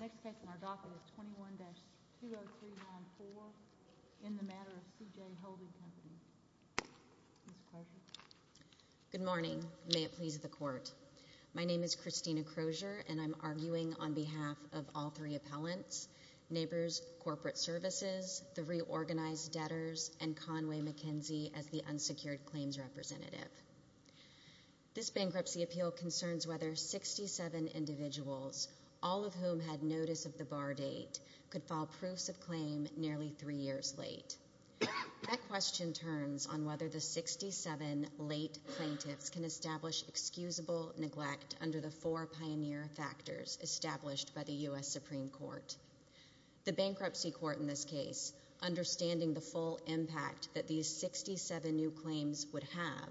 Next case in our docket is 21-20394, in the matter of C.J. Holden Company. Ms. Crozier? Good morning. May it please the Court. My name is Christina Crozier, and I'm arguing on behalf of all three appellants, Neighbors Corporate Services, the Reorganized Debtors, and Conway McKenzie as the unsecured claims representative. This bankruptcy appeal concerns whether 67 individuals, all of whom had notice of the bar date, could file proofs of claim nearly three years late. That question turns on whether the 67 late plaintiffs can establish excusable neglect under the four pioneer factors established by the U.S. Supreme Court. The bankruptcy court in this case, understanding the full impact that these 67 new claims would have,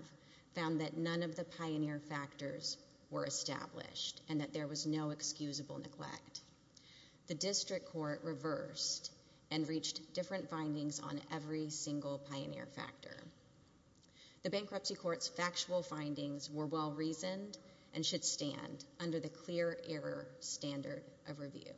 found that none of the pioneer factors were established and that there was no excusable neglect. The district court reversed and reached different findings on every single pioneer factor. The bankruptcy court's factual findings were well-reasoned and should stand under the clear error standard of review.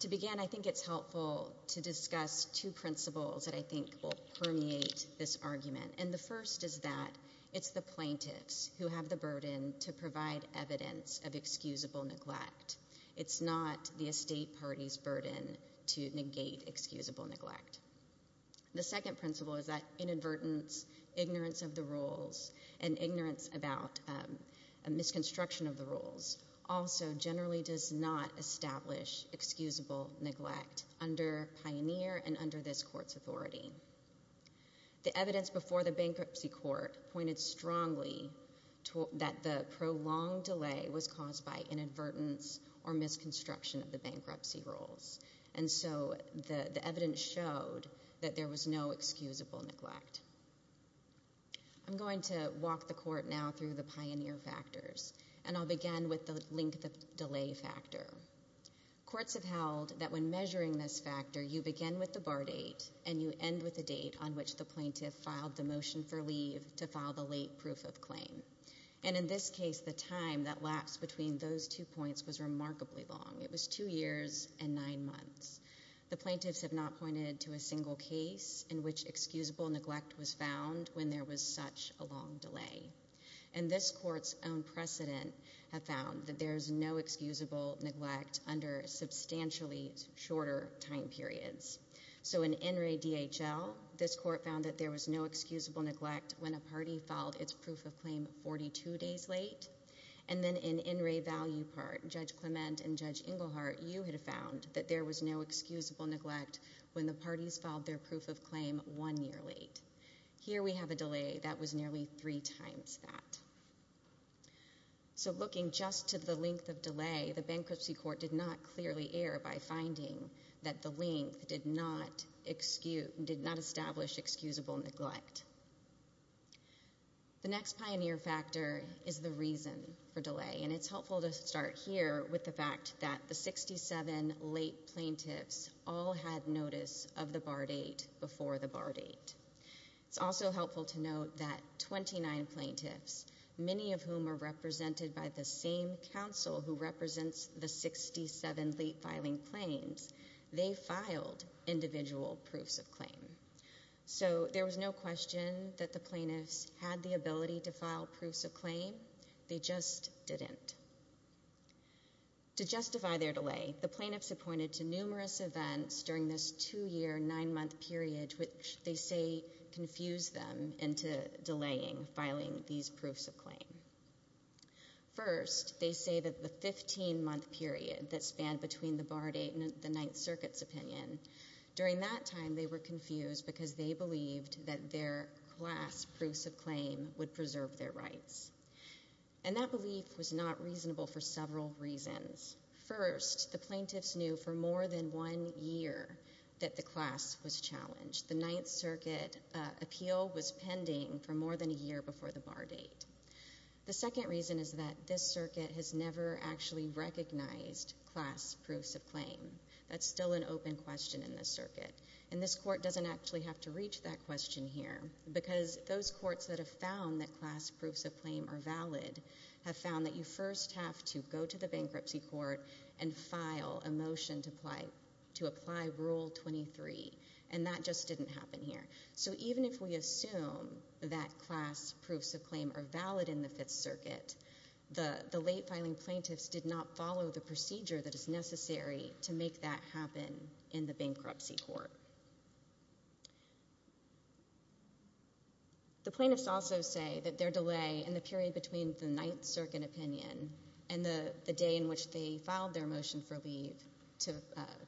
To begin, I think it's helpful to discuss two principles that I think will permeate this argument, and the first is that it's the plaintiffs who have the burden to provide evidence of excusable neglect. It's not the estate party's burden to negate excusable neglect. The second principle is that inadvertence, ignorance of the rules, and ignorance about a misconstruction of the rules also generally does not establish excusable neglect under pioneer and under this court's authority. The evidence before the bankruptcy court pointed strongly that the prolonged delay was caused by inadvertence or misconstruction of the bankruptcy rules, and so the evidence showed that there was no excusable neglect. I'm going to walk the court now through the pioneer factors, and I'll begin with the length of delay factor. Courts have held that when measuring this factor, you begin with the bar date and you end with the date on which the plaintiff filed the motion for leave to file the late proof of claim, and in this case, the time that lapsed between those two points was remarkably long. It was two years and nine months. The plaintiffs have not pointed to a single case in which excusable neglect was found when there was such a long delay, and this court's own precedent have found that there was no excusable neglect under substantially shorter time periods. So in NRA DHL, this court found that there was no excusable neglect when a party filed its proof of claim 42 days late, and then in NRA Value Part, Judge Clement and Judge Ingleheart, you had found that there was no excusable neglect when the parties filed their proof of claim one year late. Here we have a delay that was nearly three times that. So looking just to the length of delay, the bankruptcy court did not clearly err by finding that the length did not establish excusable neglect. The next pioneer factor is the reason for delay, and it's helpful to start here with the fact that the 67 late plaintiffs all had notice of the bar date before the bar date. It's also helpful to note that 29 plaintiffs, many of whom are represented by the same counsel who represents the 67 late filing claims, they filed individual proofs of claim. So there was no question that the plaintiffs had the ability to file proofs of claim, they just didn't. To justify their delay, the plaintiffs appointed to numerous events during this two-year, nine-month period, which they say confused them into delaying filing these proofs of claim. First, they say that the 15-month period that spanned between the bar date and the Ninth Circuit's opinion, during that time they were confused because they believed that their class proofs of claim would preserve their rights. And that belief was not reasonable for several reasons. First, the plaintiffs knew for more than one year that the class was challenged. The Ninth Circuit appeal was pending for more than a year before the bar date. The second reason is that this circuit has never actually recognized class proofs of claim. That's still an open question in this circuit. And this court doesn't actually have to reach that question here, because those courts that have found that class proofs of claim are valid have found that you first have to go to the bankruptcy court and file a motion to apply Rule 23. And that just didn't happen here. So even if we assume that class proofs of claim are valid in the Fifth Circuit, the late-filing plaintiffs did not follow the procedure that is necessary to make that happen in the bankruptcy court. The plaintiffs also say that their delay in the period between the Ninth Circuit opinion and the day in which they filed their motion for leave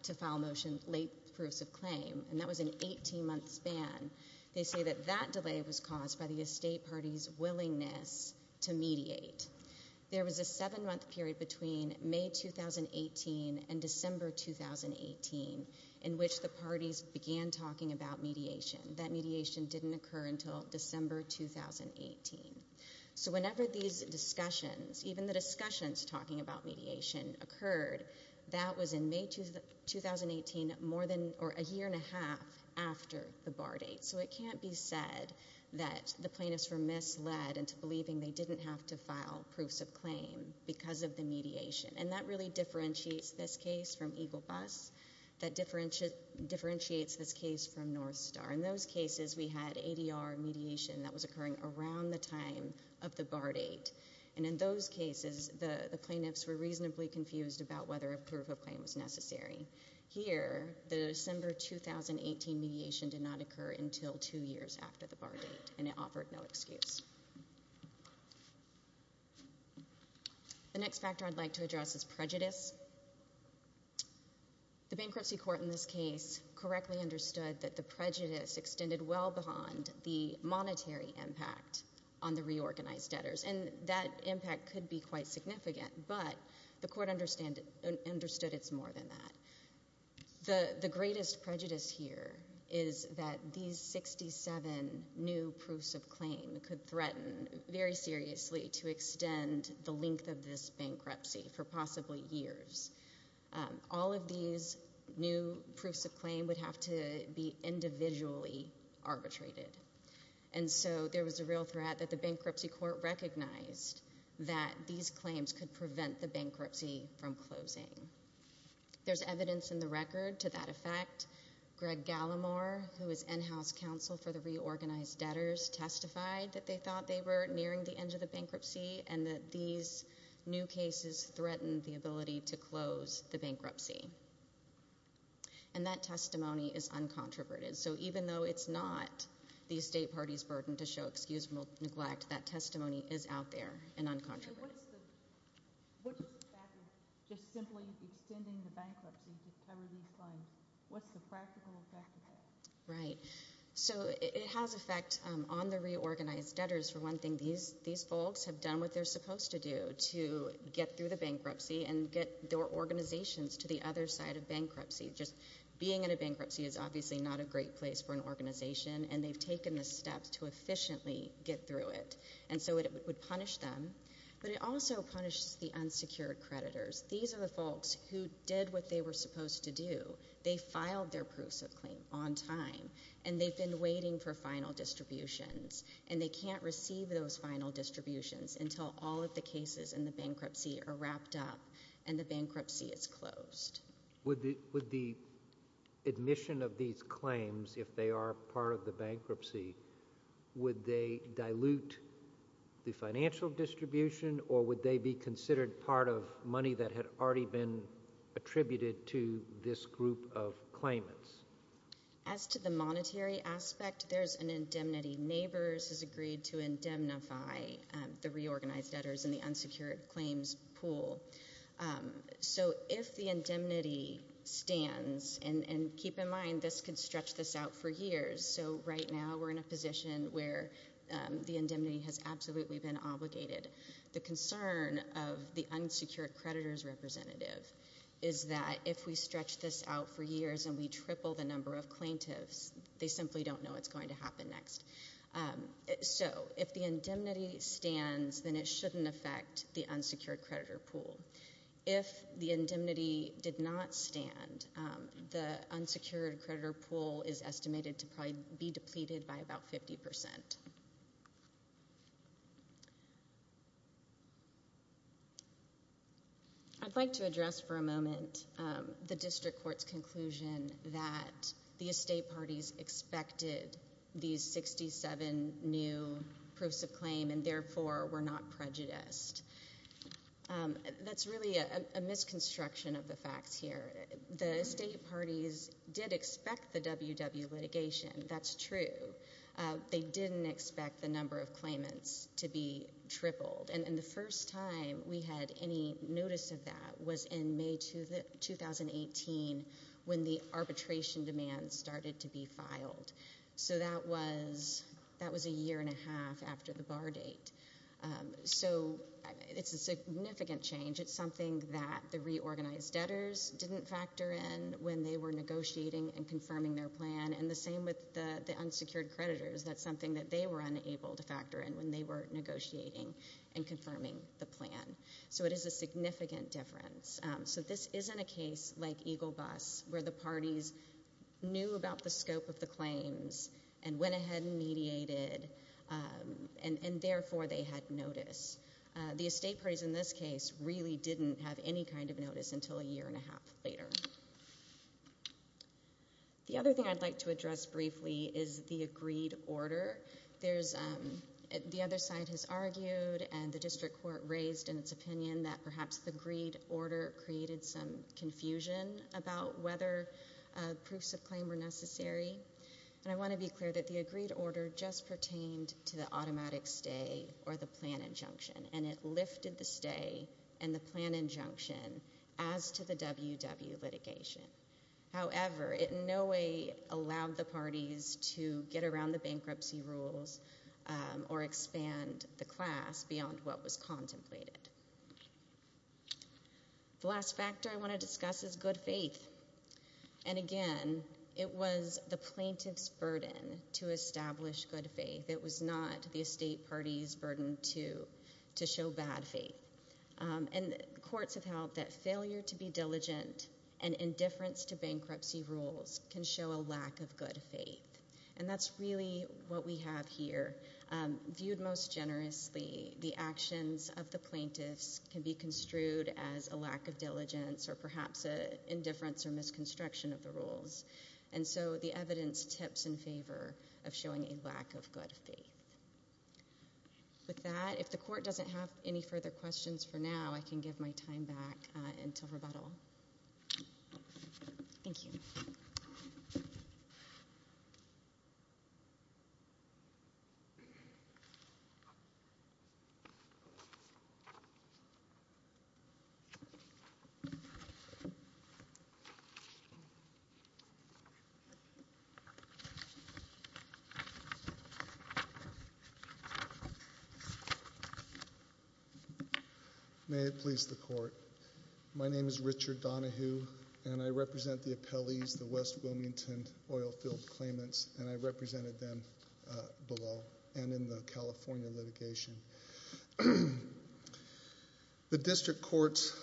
to file motion late proofs of claim, and that was an 18-month span, they say that that delay was caused by the estate party's willingness to mediate. There was a seven-month period between May 2018 and December 2018 in which the parties began talking about mediation. That mediation didn't occur until December 2018. So whenever these discussions, even the discussions talking about mediation, occurred, that was in May 2018, a year and a half after the bar date. So it can't be said that the plaintiffs were misled into believing they didn't have to file proofs of claim because of the mediation. And that really differentiates this case from Eagle Bus, that differentiates this case from North Star. In those cases, we had ADR mediation that was occurring around the time of the bar date. And in those cases, the plaintiffs were reasonably confused about whether a proof of claim was necessary. Here, the December 2018 mediation did not occur until two years after the bar date, and it offered no excuse. The next factor I'd like to address is prejudice. The bankruptcy court in this case correctly understood that the prejudice extended well beyond the monetary impact on the reorganized debtors. And that impact could be quite significant, but the court understood it's more than that. The greatest prejudice here is that these 67 new proofs of claim could threaten very All of these new proofs of claim would have to be individually arbitrated. And so there was a real threat that the bankruptcy court recognized that these claims could prevent the bankruptcy from closing. There's evidence in the record to that effect. Greg Gallimore, who is in-house counsel for the reorganized debtors, testified that they thought they were nearing the end of the bankruptcy and that these new cases threatened the ability to close the bankruptcy. And that testimony is uncontroverted. So even though it's not the state party's burden to show excuse for neglect, that testimony is out there and uncontroverted. So what's the fact of just simply extending the bankruptcy to cover these claims? What's the practical effect of that? Right. So it has effect on the reorganized debtors, for one thing. These folks have done what they're supposed to do to get through the bankruptcy and get their organizations to the other side of bankruptcy. Just being in a bankruptcy is obviously not a great place for an organization, and they've taken the steps to efficiently get through it. And so it would punish them, but it also punishes the unsecured creditors. These are the folks who did what they were supposed to do. They filed their proofs of claim on time, and they've been waiting for final distributions, and they can't receive those final distributions until all of the cases in the bankruptcy are wrapped up and the bankruptcy is closed. Would the admission of these claims, if they are part of the bankruptcy, would they dilute the financial distribution, or would they be considered part of money that had already been attributed to this group of claimants? As to the monetary aspect, there's an indemnity. Neighbors has agreed to indemnify the reorganized debtors in the unsecured claims pool. So if the indemnity stands, and keep in mind, this could stretch this out for years. So right now, we're in a position where the indemnity has absolutely been obligated. The concern of the unsecured creditors representative is that if we stretch this out for years and we triple the number of plaintiffs, they simply don't know what's going to happen next. So if the indemnity stands, then it shouldn't affect the unsecured creditor pool. If the indemnity did not stand, the unsecured creditor pool is estimated to probably be depleted by about 50%. I'd like to address for a moment the district court's conclusion that the estate parties expected these 67 new proofs of claim, and therefore were not prejudiced. That's really a misconstruction of the facts here. The estate parties did expect the WW litigation. That's true. They didn't expect the number of claimants to be tripled. And the first time we had any notice of that was in May 2018, when the arbitration demands started to be filed. So that was a year and a half after the bar date. So it's a significant change. It's something that the reorganized debtors didn't factor in when they were negotiating and confirming their plan. And the same with the unsecured creditors. That's something that they were unable to factor in when they were negotiating and confirming the plan. So it is a significant difference. So this isn't a case like Eagle Bus, where the parties knew about the scope of the claims and went ahead and mediated, and therefore they had notice. The estate parties in this case really didn't have any kind of notice until a year and a half later. The other thing I'd like to address briefly is the agreed order. The other side has argued and the district court raised in its opinion that perhaps the agreed order created some confusion about whether proofs of claim were necessary. And I want to be clear that the agreed order just pertained to the automatic stay or the plan injunction. And it lifted the stay and the plan injunction as to the WW litigation. However, it in no way allowed the parties to get around the bankruptcy rules or expand the class beyond what was contemplated. The last factor I want to discuss is good faith. And again, it was the plaintiff's burden to establish good faith. It was not the estate party's burden to show bad faith. And courts have held that failure to be diligent and indifference to bankruptcy rules can show a lack of good faith. And that's really what we have here. Viewed most generously, the actions of the plaintiffs can be construed as a lack of diligence or perhaps an indifference or misconstruction of the rules. And so the evidence tips in favor of showing a lack of good faith. With that, if the court doesn't have any further questions for now, I can give my time back until rebuttal. Thank you. May it please the court. My name is Richard Donahue, and I represent the appellees, the West Wilmington Oilfield Claimants, and I represented them below and in the California litigation. The district court's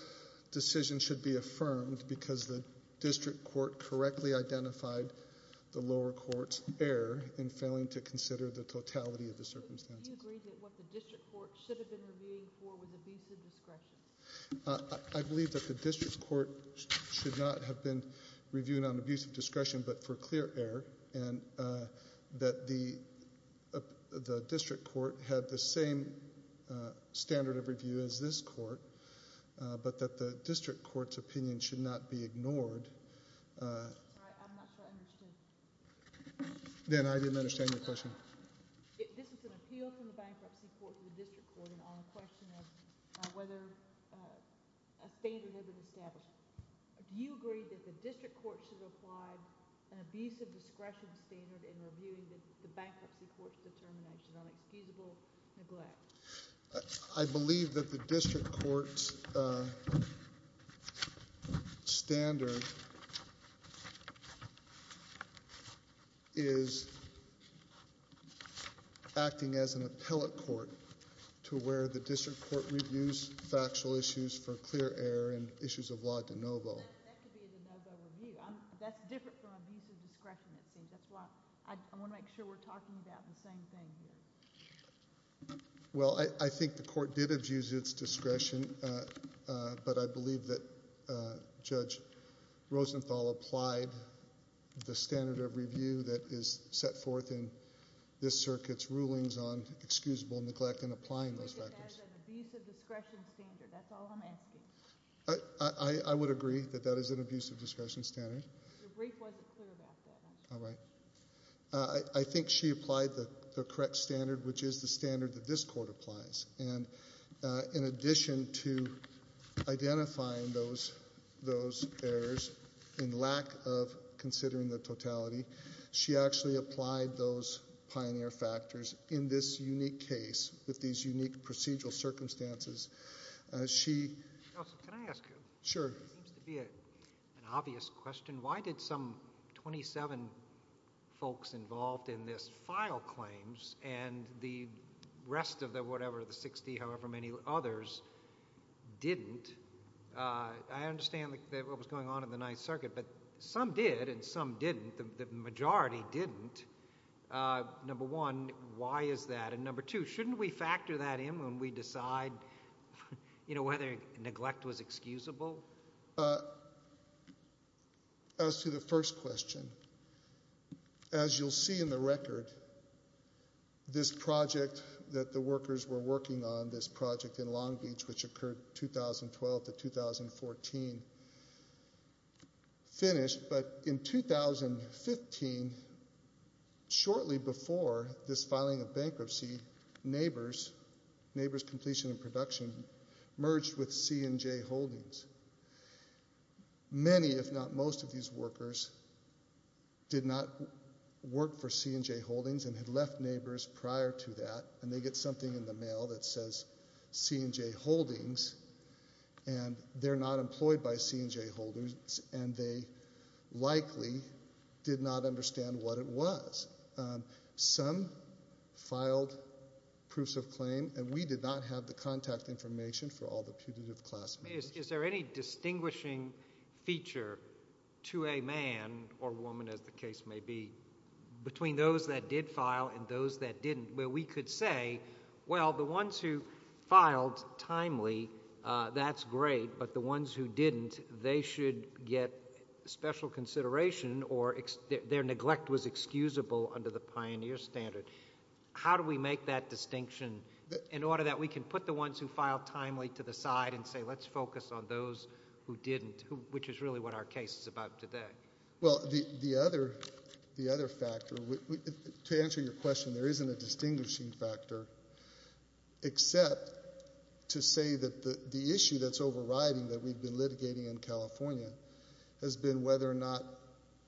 decision should be affirmed because the district court correctly identified the lower court's error in failing to consider the totality of the circumstances. Do you agree that what the district court should have been reviewing for was abusive discretion? I believe that the district court should not have been reviewing on abusive discretion, but for clear error, and that the district court had the same standard of review as this court, but that the district court's opinion should not be ignored. I'm not sure I understand. Then I didn't understand your question. This is an appeal from the bankruptcy court to the district court on the question of whether a standard is established. Do you agree that the district court should apply an abusive discretion standard in reviewing the bankruptcy court's determination on excusable neglect? I believe that the district court's standard is acting as an appellate court to where the district court's decision should be affirmed. Do you agree that the district court should not have been reviewing on abusive discretion? I think the court did abuse its discretion, but I believe that Judge Rosenthal applied the standard of review that is set forth in this circuit's rulings on excusable neglect and applying those factors. That is an abusive discretion standard. That's all I'm asking. I would agree that that is an abusive discretion standard. Your brief wasn't clear about that. I think she applied the correct standard, which is the standard that this court applies. In addition to identifying those errors in lack of considering the totality, she actually applied those pioneer factors in this unique case with these unique procedural circumstances. Can I ask you? Sure. It seems to be an obvious question. Why did some 27 folks involved in this file claims and the rest of the 60, however many others, didn't? I understand what was going on in the Ninth Circuit, but some did and some didn't. The majority didn't. Number one, why is that? Number two, shouldn't we factor that in when we decide whether neglect was excusable? As to the first question, as you'll see in the record, this project that the workers were working on, this project in Long Beach, which occurred 2012 to 2014, finished. In 2015, shortly before this filing of bankruptcy, Neighbors Completion and Production merged with C&J Holdings. Many, if not most, of these workers did not work for C&J Holdings and had left Neighbors prior to that. They get something in the mail that says C&J Holdings. They're not employed by C&J Holdings and they likely did not understand what it was. Some filed proofs of claim and we did not have the contact information for all the putative classmates. Is there any distinguishing feature to a man or woman, as the case may be, between those that did file and those that didn't, where we could say, well, the ones who filed timely, that's great, but the ones who didn't, they should get special consideration or their neglect was excusable under the pioneer standard. How do we make that distinction in order that we can put the ones who filed timely to the side and say, let's focus on those who didn't, which is really what our case is about today? Well, the other factor, to answer your question, there isn't a distinguishing factor except to say that the issue that's overriding that we've been litigating in California has been whether or not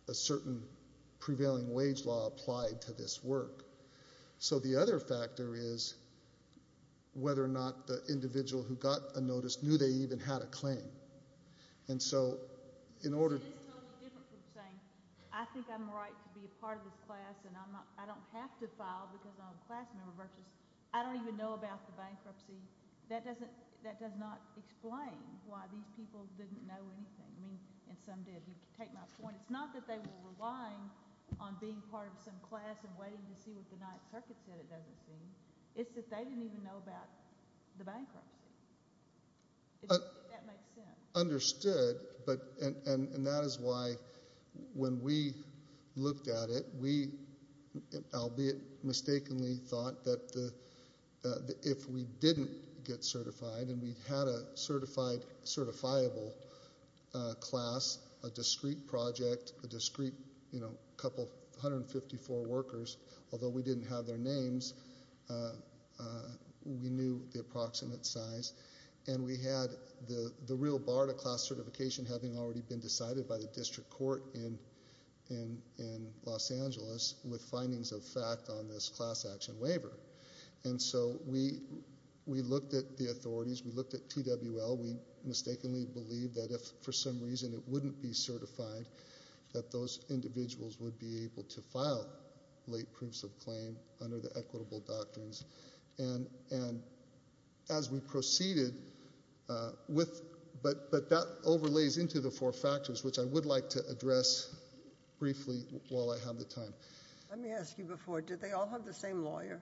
a certain prevailing wage law applied to this work. So the other factor is whether or not the individual who got a notice knew they even had a claim. It is totally different from saying, I think I'm right to be a part of this class and I don't have to file because I'm a class member versus I don't even know about the bankruptcy. That does not explain why these people didn't know anything. And some did. You can take my point. It's not that they were relying on being part of some class and waiting to see what the Ninth Circuit said, it doesn't seem. It's that they didn't even know about the bankruptcy. If that makes sense. Understood. And that is why when we looked at it, we, albeit mistakenly, thought that if we didn't get certified and we had a certified, certifiable class, a discrete project, a discrete couple of 154 workers, although we didn't have their names, we knew the approximate size. And we had the real bar to class certification having already been decided by the district court in Los Angeles with findings of fact on this class action waiver. So we looked at the authorities, we looked at TWL, we mistakenly believed that if for some reason it wouldn't be certified, that those individuals would be able to file late proofs of claim under the equitable doctrines. And as we proceeded with, but that overlays into the four factors, which I would like to address briefly while I have the time. Let me ask you before, did they all have the same lawyer?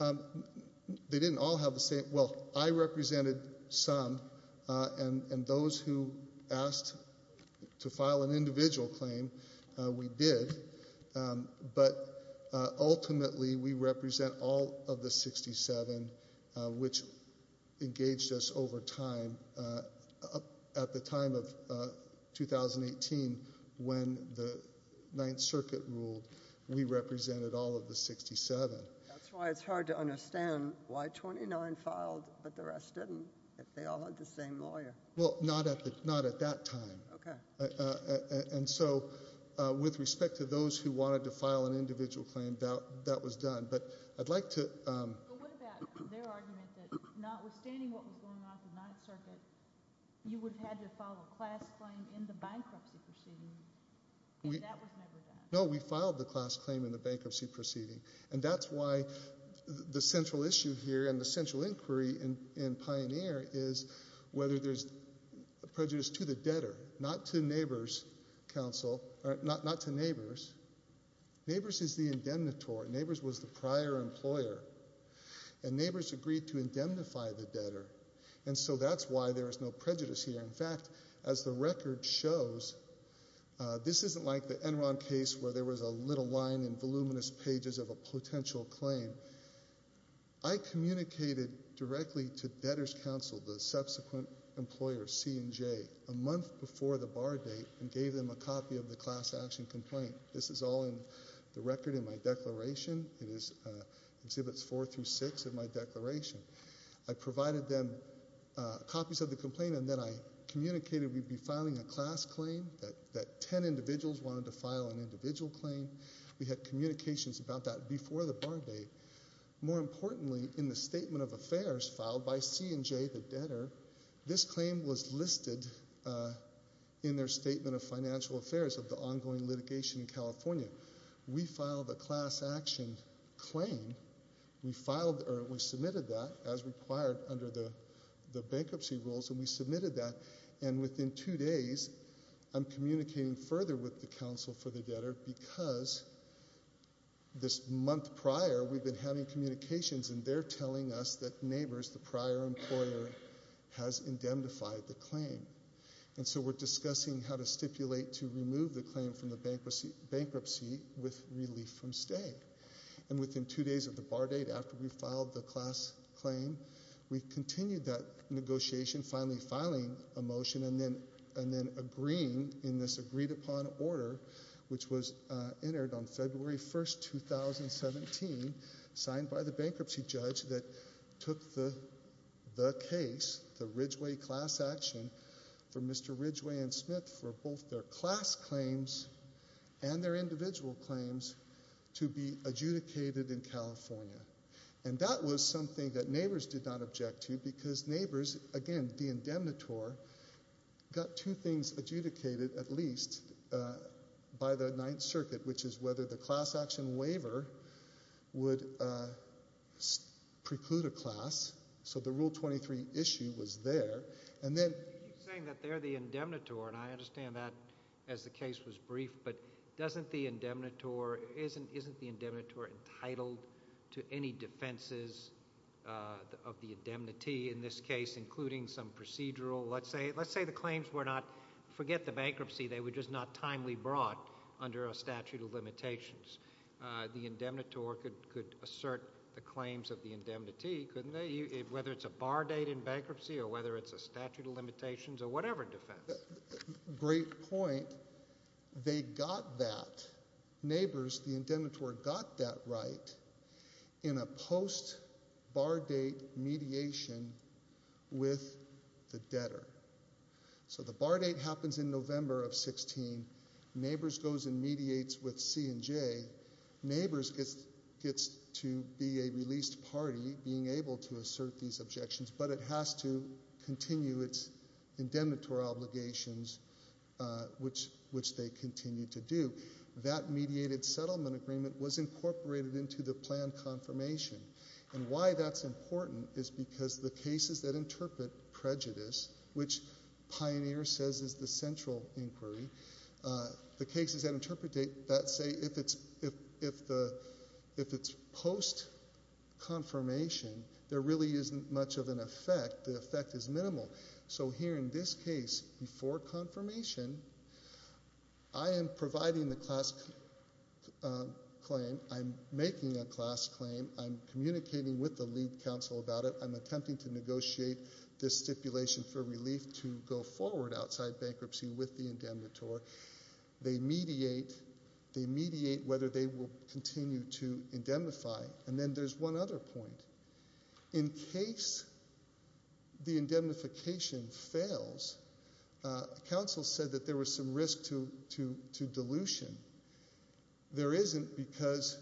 They didn't all have the same. Well, I represented some, and those who asked to file an individual claim, we did. But ultimately, we represent all of the 67, which engaged us over time. At the time of 2018, when the Ninth Circuit ruled, we represented all of the 67. That's why it's hard to understand why 29 filed, but the rest didn't, if they all had the same lawyer. Well, not at that time. Okay. And so, with respect to those who wanted to file an individual claim, that was done. But I'd like to... But what about their argument that notwithstanding what was going on at the Ninth Circuit, you would have had to file a class claim in the bankruptcy proceeding, and that was never done? No, we filed the class claim in the bankruptcy proceeding. And that's why the central issue here and the central inquiry in Pioneer is whether there's prejudice to the debtor, not to neighbors, counsel, not to neighbors. Neighbors is the indemnitore. Neighbors was the prior employer. And neighbors agreed to indemnify the debtor. And so that's why there is no prejudice here. In fact, as the record shows, this isn't like the Enron case where there was a little line in voluminous pages of a potential claim. I communicated directly to debtors' counsel, the subsequent employers, C and J, a month before the bar date and gave them a copy of the class action complaint. This is all in the record in my declaration. It is Exhibits 4 through 6 of my declaration. I provided them copies of the complaint, and then I communicated we'd be filing a class claim, that 10 individuals wanted to file an individual claim. We had communications about that before the bar date. More importantly, in the Statement of Affairs filed by C and J, the debtor, this claim was listed in their Statement of Financial Affairs of the ongoing litigation in California. We filed a class action claim. We submitted that as required under the bankruptcy rules, and we submitted that. Within two days, I'm communicating further with the counsel for the debtor because this month prior, we've been having communications, and they're telling us that neighbors, the prior employer, has indemnified the claim. We're discussing how to stipulate to remove the claim from the bankruptcy with relief from stay. Within two days of the bar date, after we filed the class claim, we continued that negotiation, finally filing a motion, and then agreeing in this agreed-upon order, which was entered on February 1, 2017, signed by the bankruptcy judge that took the case, the Ridgway class action, for Mr. Ridgway and Smith for both their class claims and their individual claims in California. And that was something that neighbors did not object to because neighbors, again, the indemnitor, got two things adjudicated, at least, by the Ninth Circuit, which is whether the class action waiver would preclude a class. So the Rule 23 issue was there. And then— You keep saying that they're the indemnitor, and I understand that as the case was brief, but doesn't the indemnitor—isn't the indemnitor entitled to any defenses of the indemnity in this case, including some procedural—let's say the claims were not—forget the bankruptcy, they were just not timely brought under a statute of limitations. The indemnitor could assert the claims of the indemnity, couldn't they, whether it's a bar date in bankruptcy or whether it's a statute of limitations or whatever defense? Great point. They got that—neighbors, the indemnitor got that right in a post-bar date mediation with the debtor. So the bar date happens in November of 16. Neighbors goes and mediates with C&J. Neighbors gets to be a released party being able to assert these objections, but it has to continue its indemnitor obligations, which they continue to do. That mediated settlement agreement was incorporated into the planned confirmation. And why that's important is because the cases that interpret prejudice, which Pioneer says is the central inquiry, the cases that interpret that say if it's post-confirmation, there really isn't much of an effect. The effect is minimal. So here in this case, before confirmation, I am providing the class claim. I'm making a class claim. I'm communicating with the lead counsel about it. I'm attempting to negotiate this stipulation for relief to go forward outside bankruptcy with the indemnitor. They mediate. They mediate whether they will continue to indemnify. And then there's one other point. In case the indemnification fails, counsel said that there was some risk to dilution. There isn't because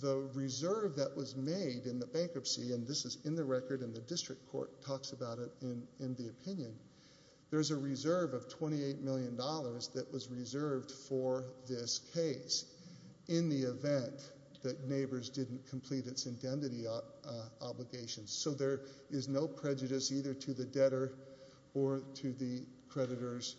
the reserve that was made in the bankruptcy, and this is in the record and the district court talks about it in the opinion, there's a reserve of $28 million that was reserved for this case in the event that neighbors didn't complete its indemnity obligations. So there is no prejudice either to the debtor or to the creditors.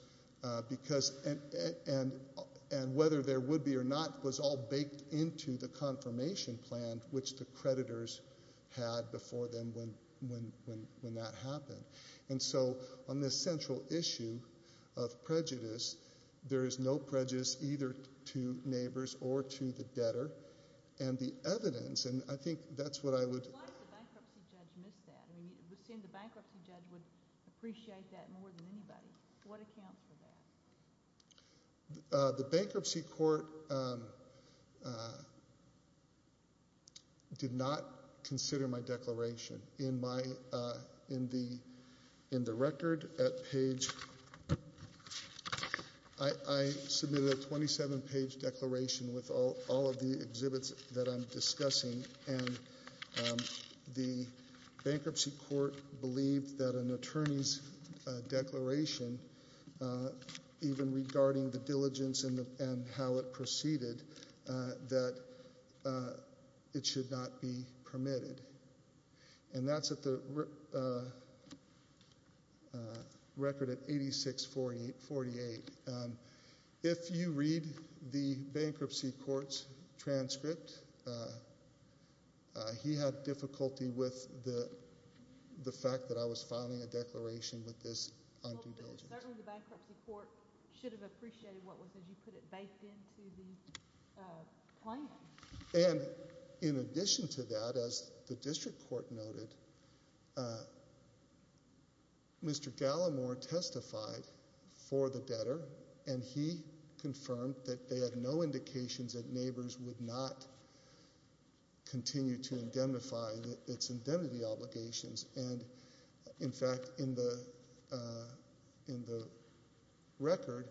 And whether there would be or not was all baked into the confirmation plan, which the creditors had before then when that happened. And so on this central issue of prejudice, there is no prejudice either to neighbors or to the debtor. And the evidence, and I think that's what I would... Why did the bankruptcy judge miss that? It would seem the bankruptcy judge would appreciate that more than anybody. What accounts for that? The bankruptcy court did not consider my declaration. In the record at page... I submitted a 27-page declaration with all of the exhibits that I'm discussing, and the bankruptcy court believed that an attorney's declaration, even regarding the diligence and how it proceeded, that it should not be permitted. And that's at the record at 8648. If you read the bankruptcy court's transcript, he had difficulty with the fact that I was filing a declaration with this undue diligence. Certainly the bankruptcy court should have appreciated what was, as you put it, baked into the plan. And in addition to that, as the district court noted, Mr. Gallimore testified for the debtor, and he confirmed that they had no indications that neighbors would not continue to indemnify its indemnity obligations. And, in fact, in the record...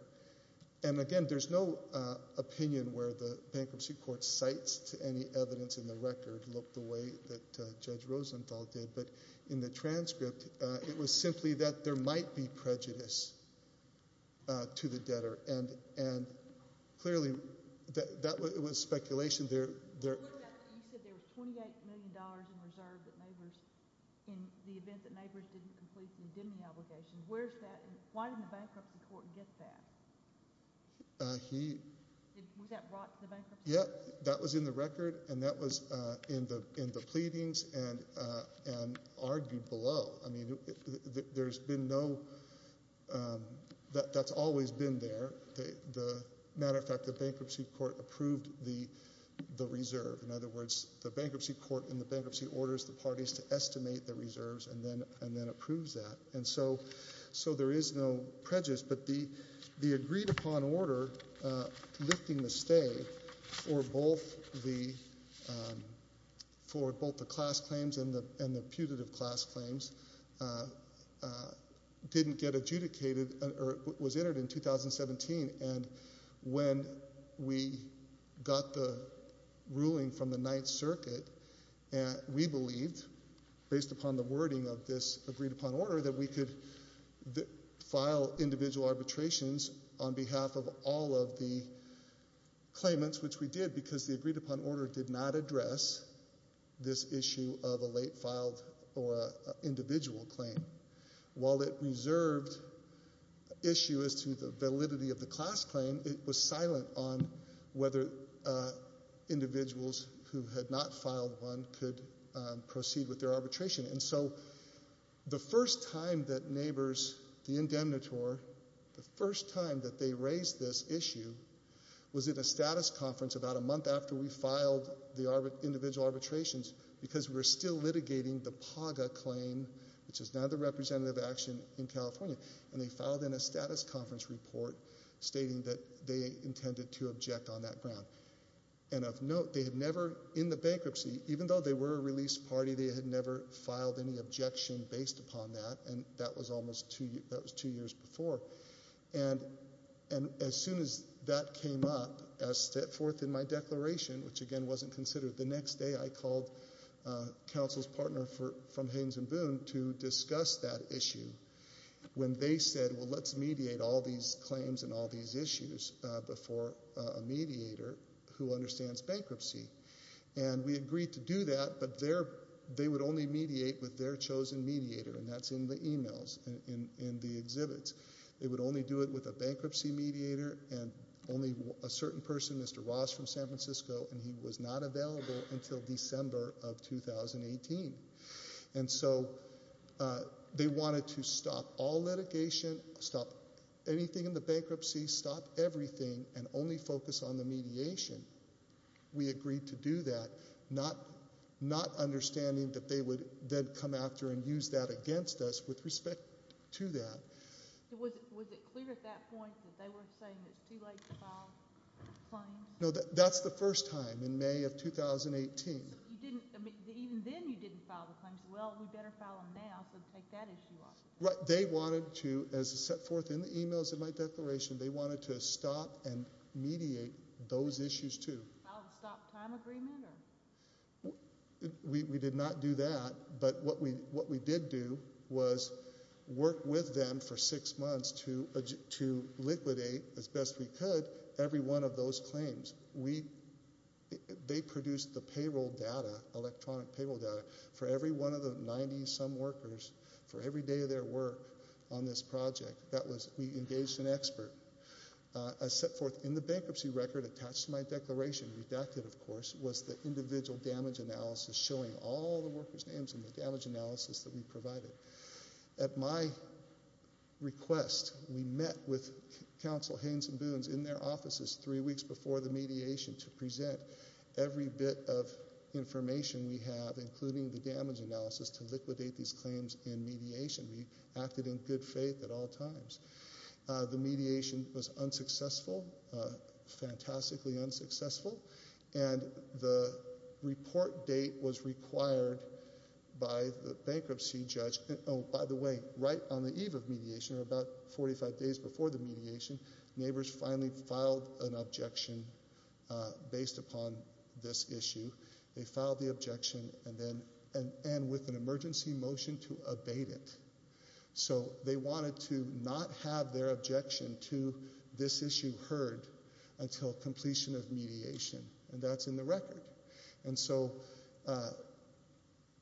And, again, there's no opinion where the bankruptcy court's cites to any evidence in the record look the way that Judge Rosenthal did, but in the transcript, it was simply that there might be prejudice to the debtor. And, clearly, that was speculation. You said there was $28 million in reserve that neighbors... In the event that neighbors didn't complete the indemnity obligation, where's that? Why didn't the bankruptcy court get that? He... Was that brought to the bankruptcy court? Yeah, that was in the record, and that was in the pleadings and argued below. I mean, there's been no... That's always been there. As a matter of fact, the bankruptcy court approved the reserve. In other words, the bankruptcy court, in the bankruptcy, orders the parties to estimate the reserves and then approves that. And so there is no prejudice. But the agreed-upon order lifting the stay for both the class claims and the putative class claims didn't get adjudicated or was entered in 2017. And when we got the ruling from the Ninth Circuit, we believed, based upon the wording of this agreed-upon order, that we could file individual arbitrations on behalf of all of the claimants, which we did because the agreed-upon order did not address this issue of a late filed or individual claim. While it reserved issue as to the validity of the class claim, it was silent on whether individuals who had not filed one could proceed with their arbitration. And so the first time that neighbors, the indemnitor, the first time that they raised this issue was at a status conference about a month after we filed the individual arbitrations because we were still litigating the PAGA claim, which is now the representative action in California. And they filed in a status conference report stating that they intended to object on that ground. And of note, they had never, in the bankruptcy, even though they were a release party, they had never filed any objection based upon that, and that was two years before. And as soon as that came up, as set forth in my declaration, which again wasn't considered the next day, I called counsel's partner from Haynes & Boone to discuss that issue when they said, well, let's mediate all these claims and all these issues before a mediator who understands bankruptcy. And we agreed to do that, but they would only mediate with their chosen mediator, and that's in the emails, in the exhibits. They would only do it with a bankruptcy mediator and only a certain person, Mr. Ross from San Francisco, and he was not available until December of 2018. And so they wanted to stop all litigation, stop anything in the bankruptcy, stop everything, and only focus on the mediation. We agreed to do that, not understanding that they would then come after and use that against us with respect to that. Was it clear at that point that they were saying it's too late to file claims? No, that's the first time in May of 2018. So even then you didn't file the claims. Well, we better file them now, so take that issue off. Right. They wanted to, as set forth in the emails in my declaration, they wanted to stop and mediate those issues too. File a stop time agreement? We did not do that, but what we did do was work with them for six months to liquidate, as best we could, every one of those claims. They produced the payroll data, electronic payroll data, for every one of the 90-some workers for every day of their work on this project. We engaged an expert. As set forth in the bankruptcy record attached to my declaration, redacted, of course, was the individual damage analysis showing all the workers' names in the damage analysis that we provided. At my request, we met with counsel Haynes and Boones in their offices three weeks before the mediation to present every bit of information we have, including the damage analysis, to liquidate these claims in mediation. We acted in good faith at all times. The mediation was unsuccessful, fantastically unsuccessful, and the report date was required by the bankruptcy judge. Oh, by the way, right on the eve of mediation, or about 45 days before the mediation, neighbors finally filed an objection based upon this issue. They filed the objection and with an emergency motion to abate it. So they wanted to not have their objection to this issue heard until completion of mediation, and that's in the record. And so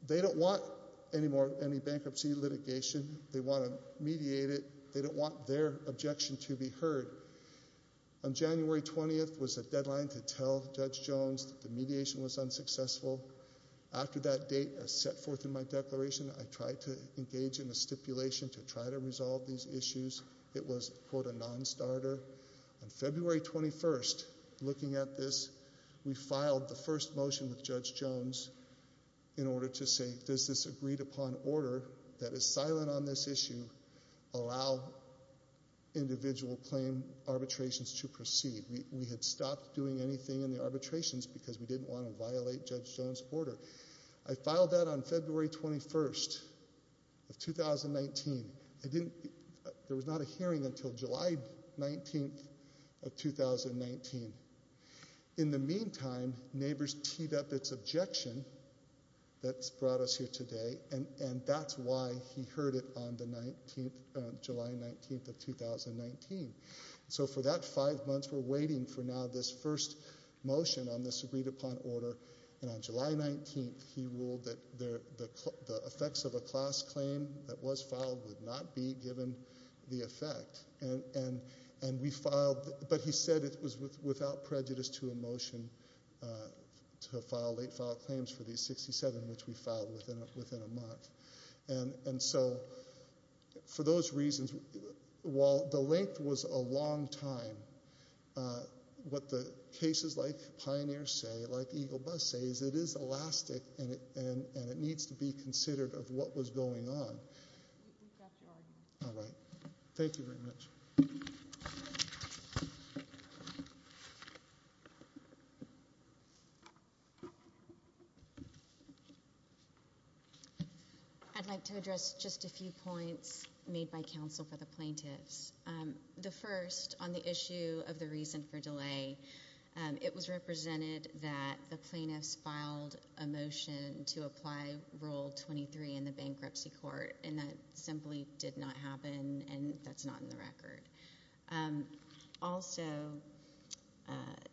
they don't want any more bankruptcy litigation. They want to mediate it. They don't want their objection to be heard. On January 20th was the deadline to tell Judge Jones that the mediation was unsuccessful. After that date was set forth in my declaration, I tried to engage in a stipulation to try to resolve these issues. It was, quote, a nonstarter. On February 21st, looking at this, we filed the first motion with Judge Jones in order to say, does this agreed-upon order that is silent on this issue allow individual claim arbitrations to proceed? We had stopped doing anything in the arbitrations because we didn't want to violate Judge Jones' order. I filed that on February 21st of 2019. There was not a hearing until July 19th of 2019. In the meantime, neighbors teed up its objection that's brought us here today, and that's why he heard it on July 19th of 2019. So for that five months, we're waiting for now this first motion on this agreed-upon order, and on July 19th, he ruled that the effects of a class claim that was filed would not be given the effect. But he said it was without prejudice to a motion to file late-filed claims for these 67, which we filed within a month. And so for those reasons, while the length was a long time, what the cases like Pioneer say, like Eagle Bus says, it is elastic and it needs to be considered of what was going on. We've got your argument. All right. Thank you very much. Thank you. I'd like to address just a few points made by counsel for the plaintiffs. The first, on the issue of the reason for delay, it was represented that the plaintiffs filed a motion to apply Rule 23 in the bankruptcy court, and that simply did not happen, and that's not in the record. Also,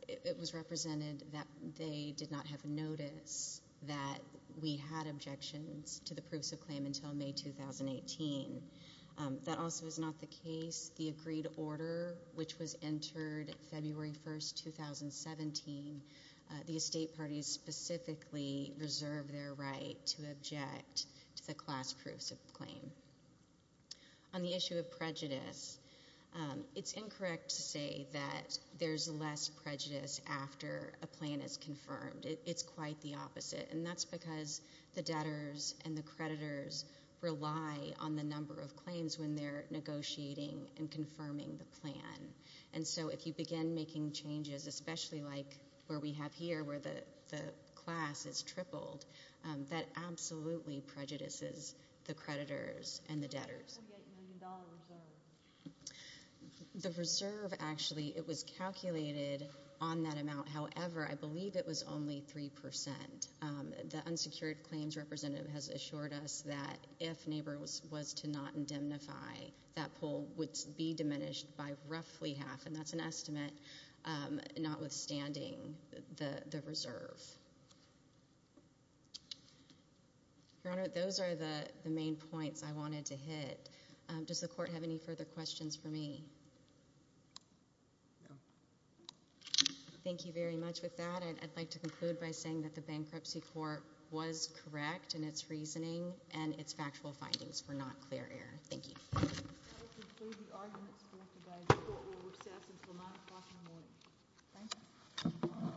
it was represented that they did not have a notice that we had objections to the proofs of claim until May 2018. That also is not the case. The agreed order, which was entered February 1st, 2017, the estate parties specifically reserved their right to object to the class proofs of claim. On the issue of prejudice, it's incorrect to say that there's less prejudice after a plan is confirmed. It's quite the opposite, and that's because the debtors and the creditors rely on the number of claims when they're negotiating and confirming the plan. And so if you begin making changes, especially like where we have here, where the class is tripled, that absolutely prejudices the creditors and the debtors. What about the $28 million reserve? The reserve, actually, it was calculated on that amount. However, I believe it was only 3%. The unsecured claims representative has assured us that if NABUR was to not indemnify, that poll would be diminished by roughly half, and that's an estimate, notwithstanding the reserve. Your Honor, those are the main points I wanted to hit. Does the court have any further questions for me? No. Thank you very much. With that, I'd like to conclude by saying that the bankruptcy court was correct in its reasoning and its factual findings were not clear error. Thank you. That will conclude the arguments for today. The court will recess until 9 o'clock in the morning. Thank you.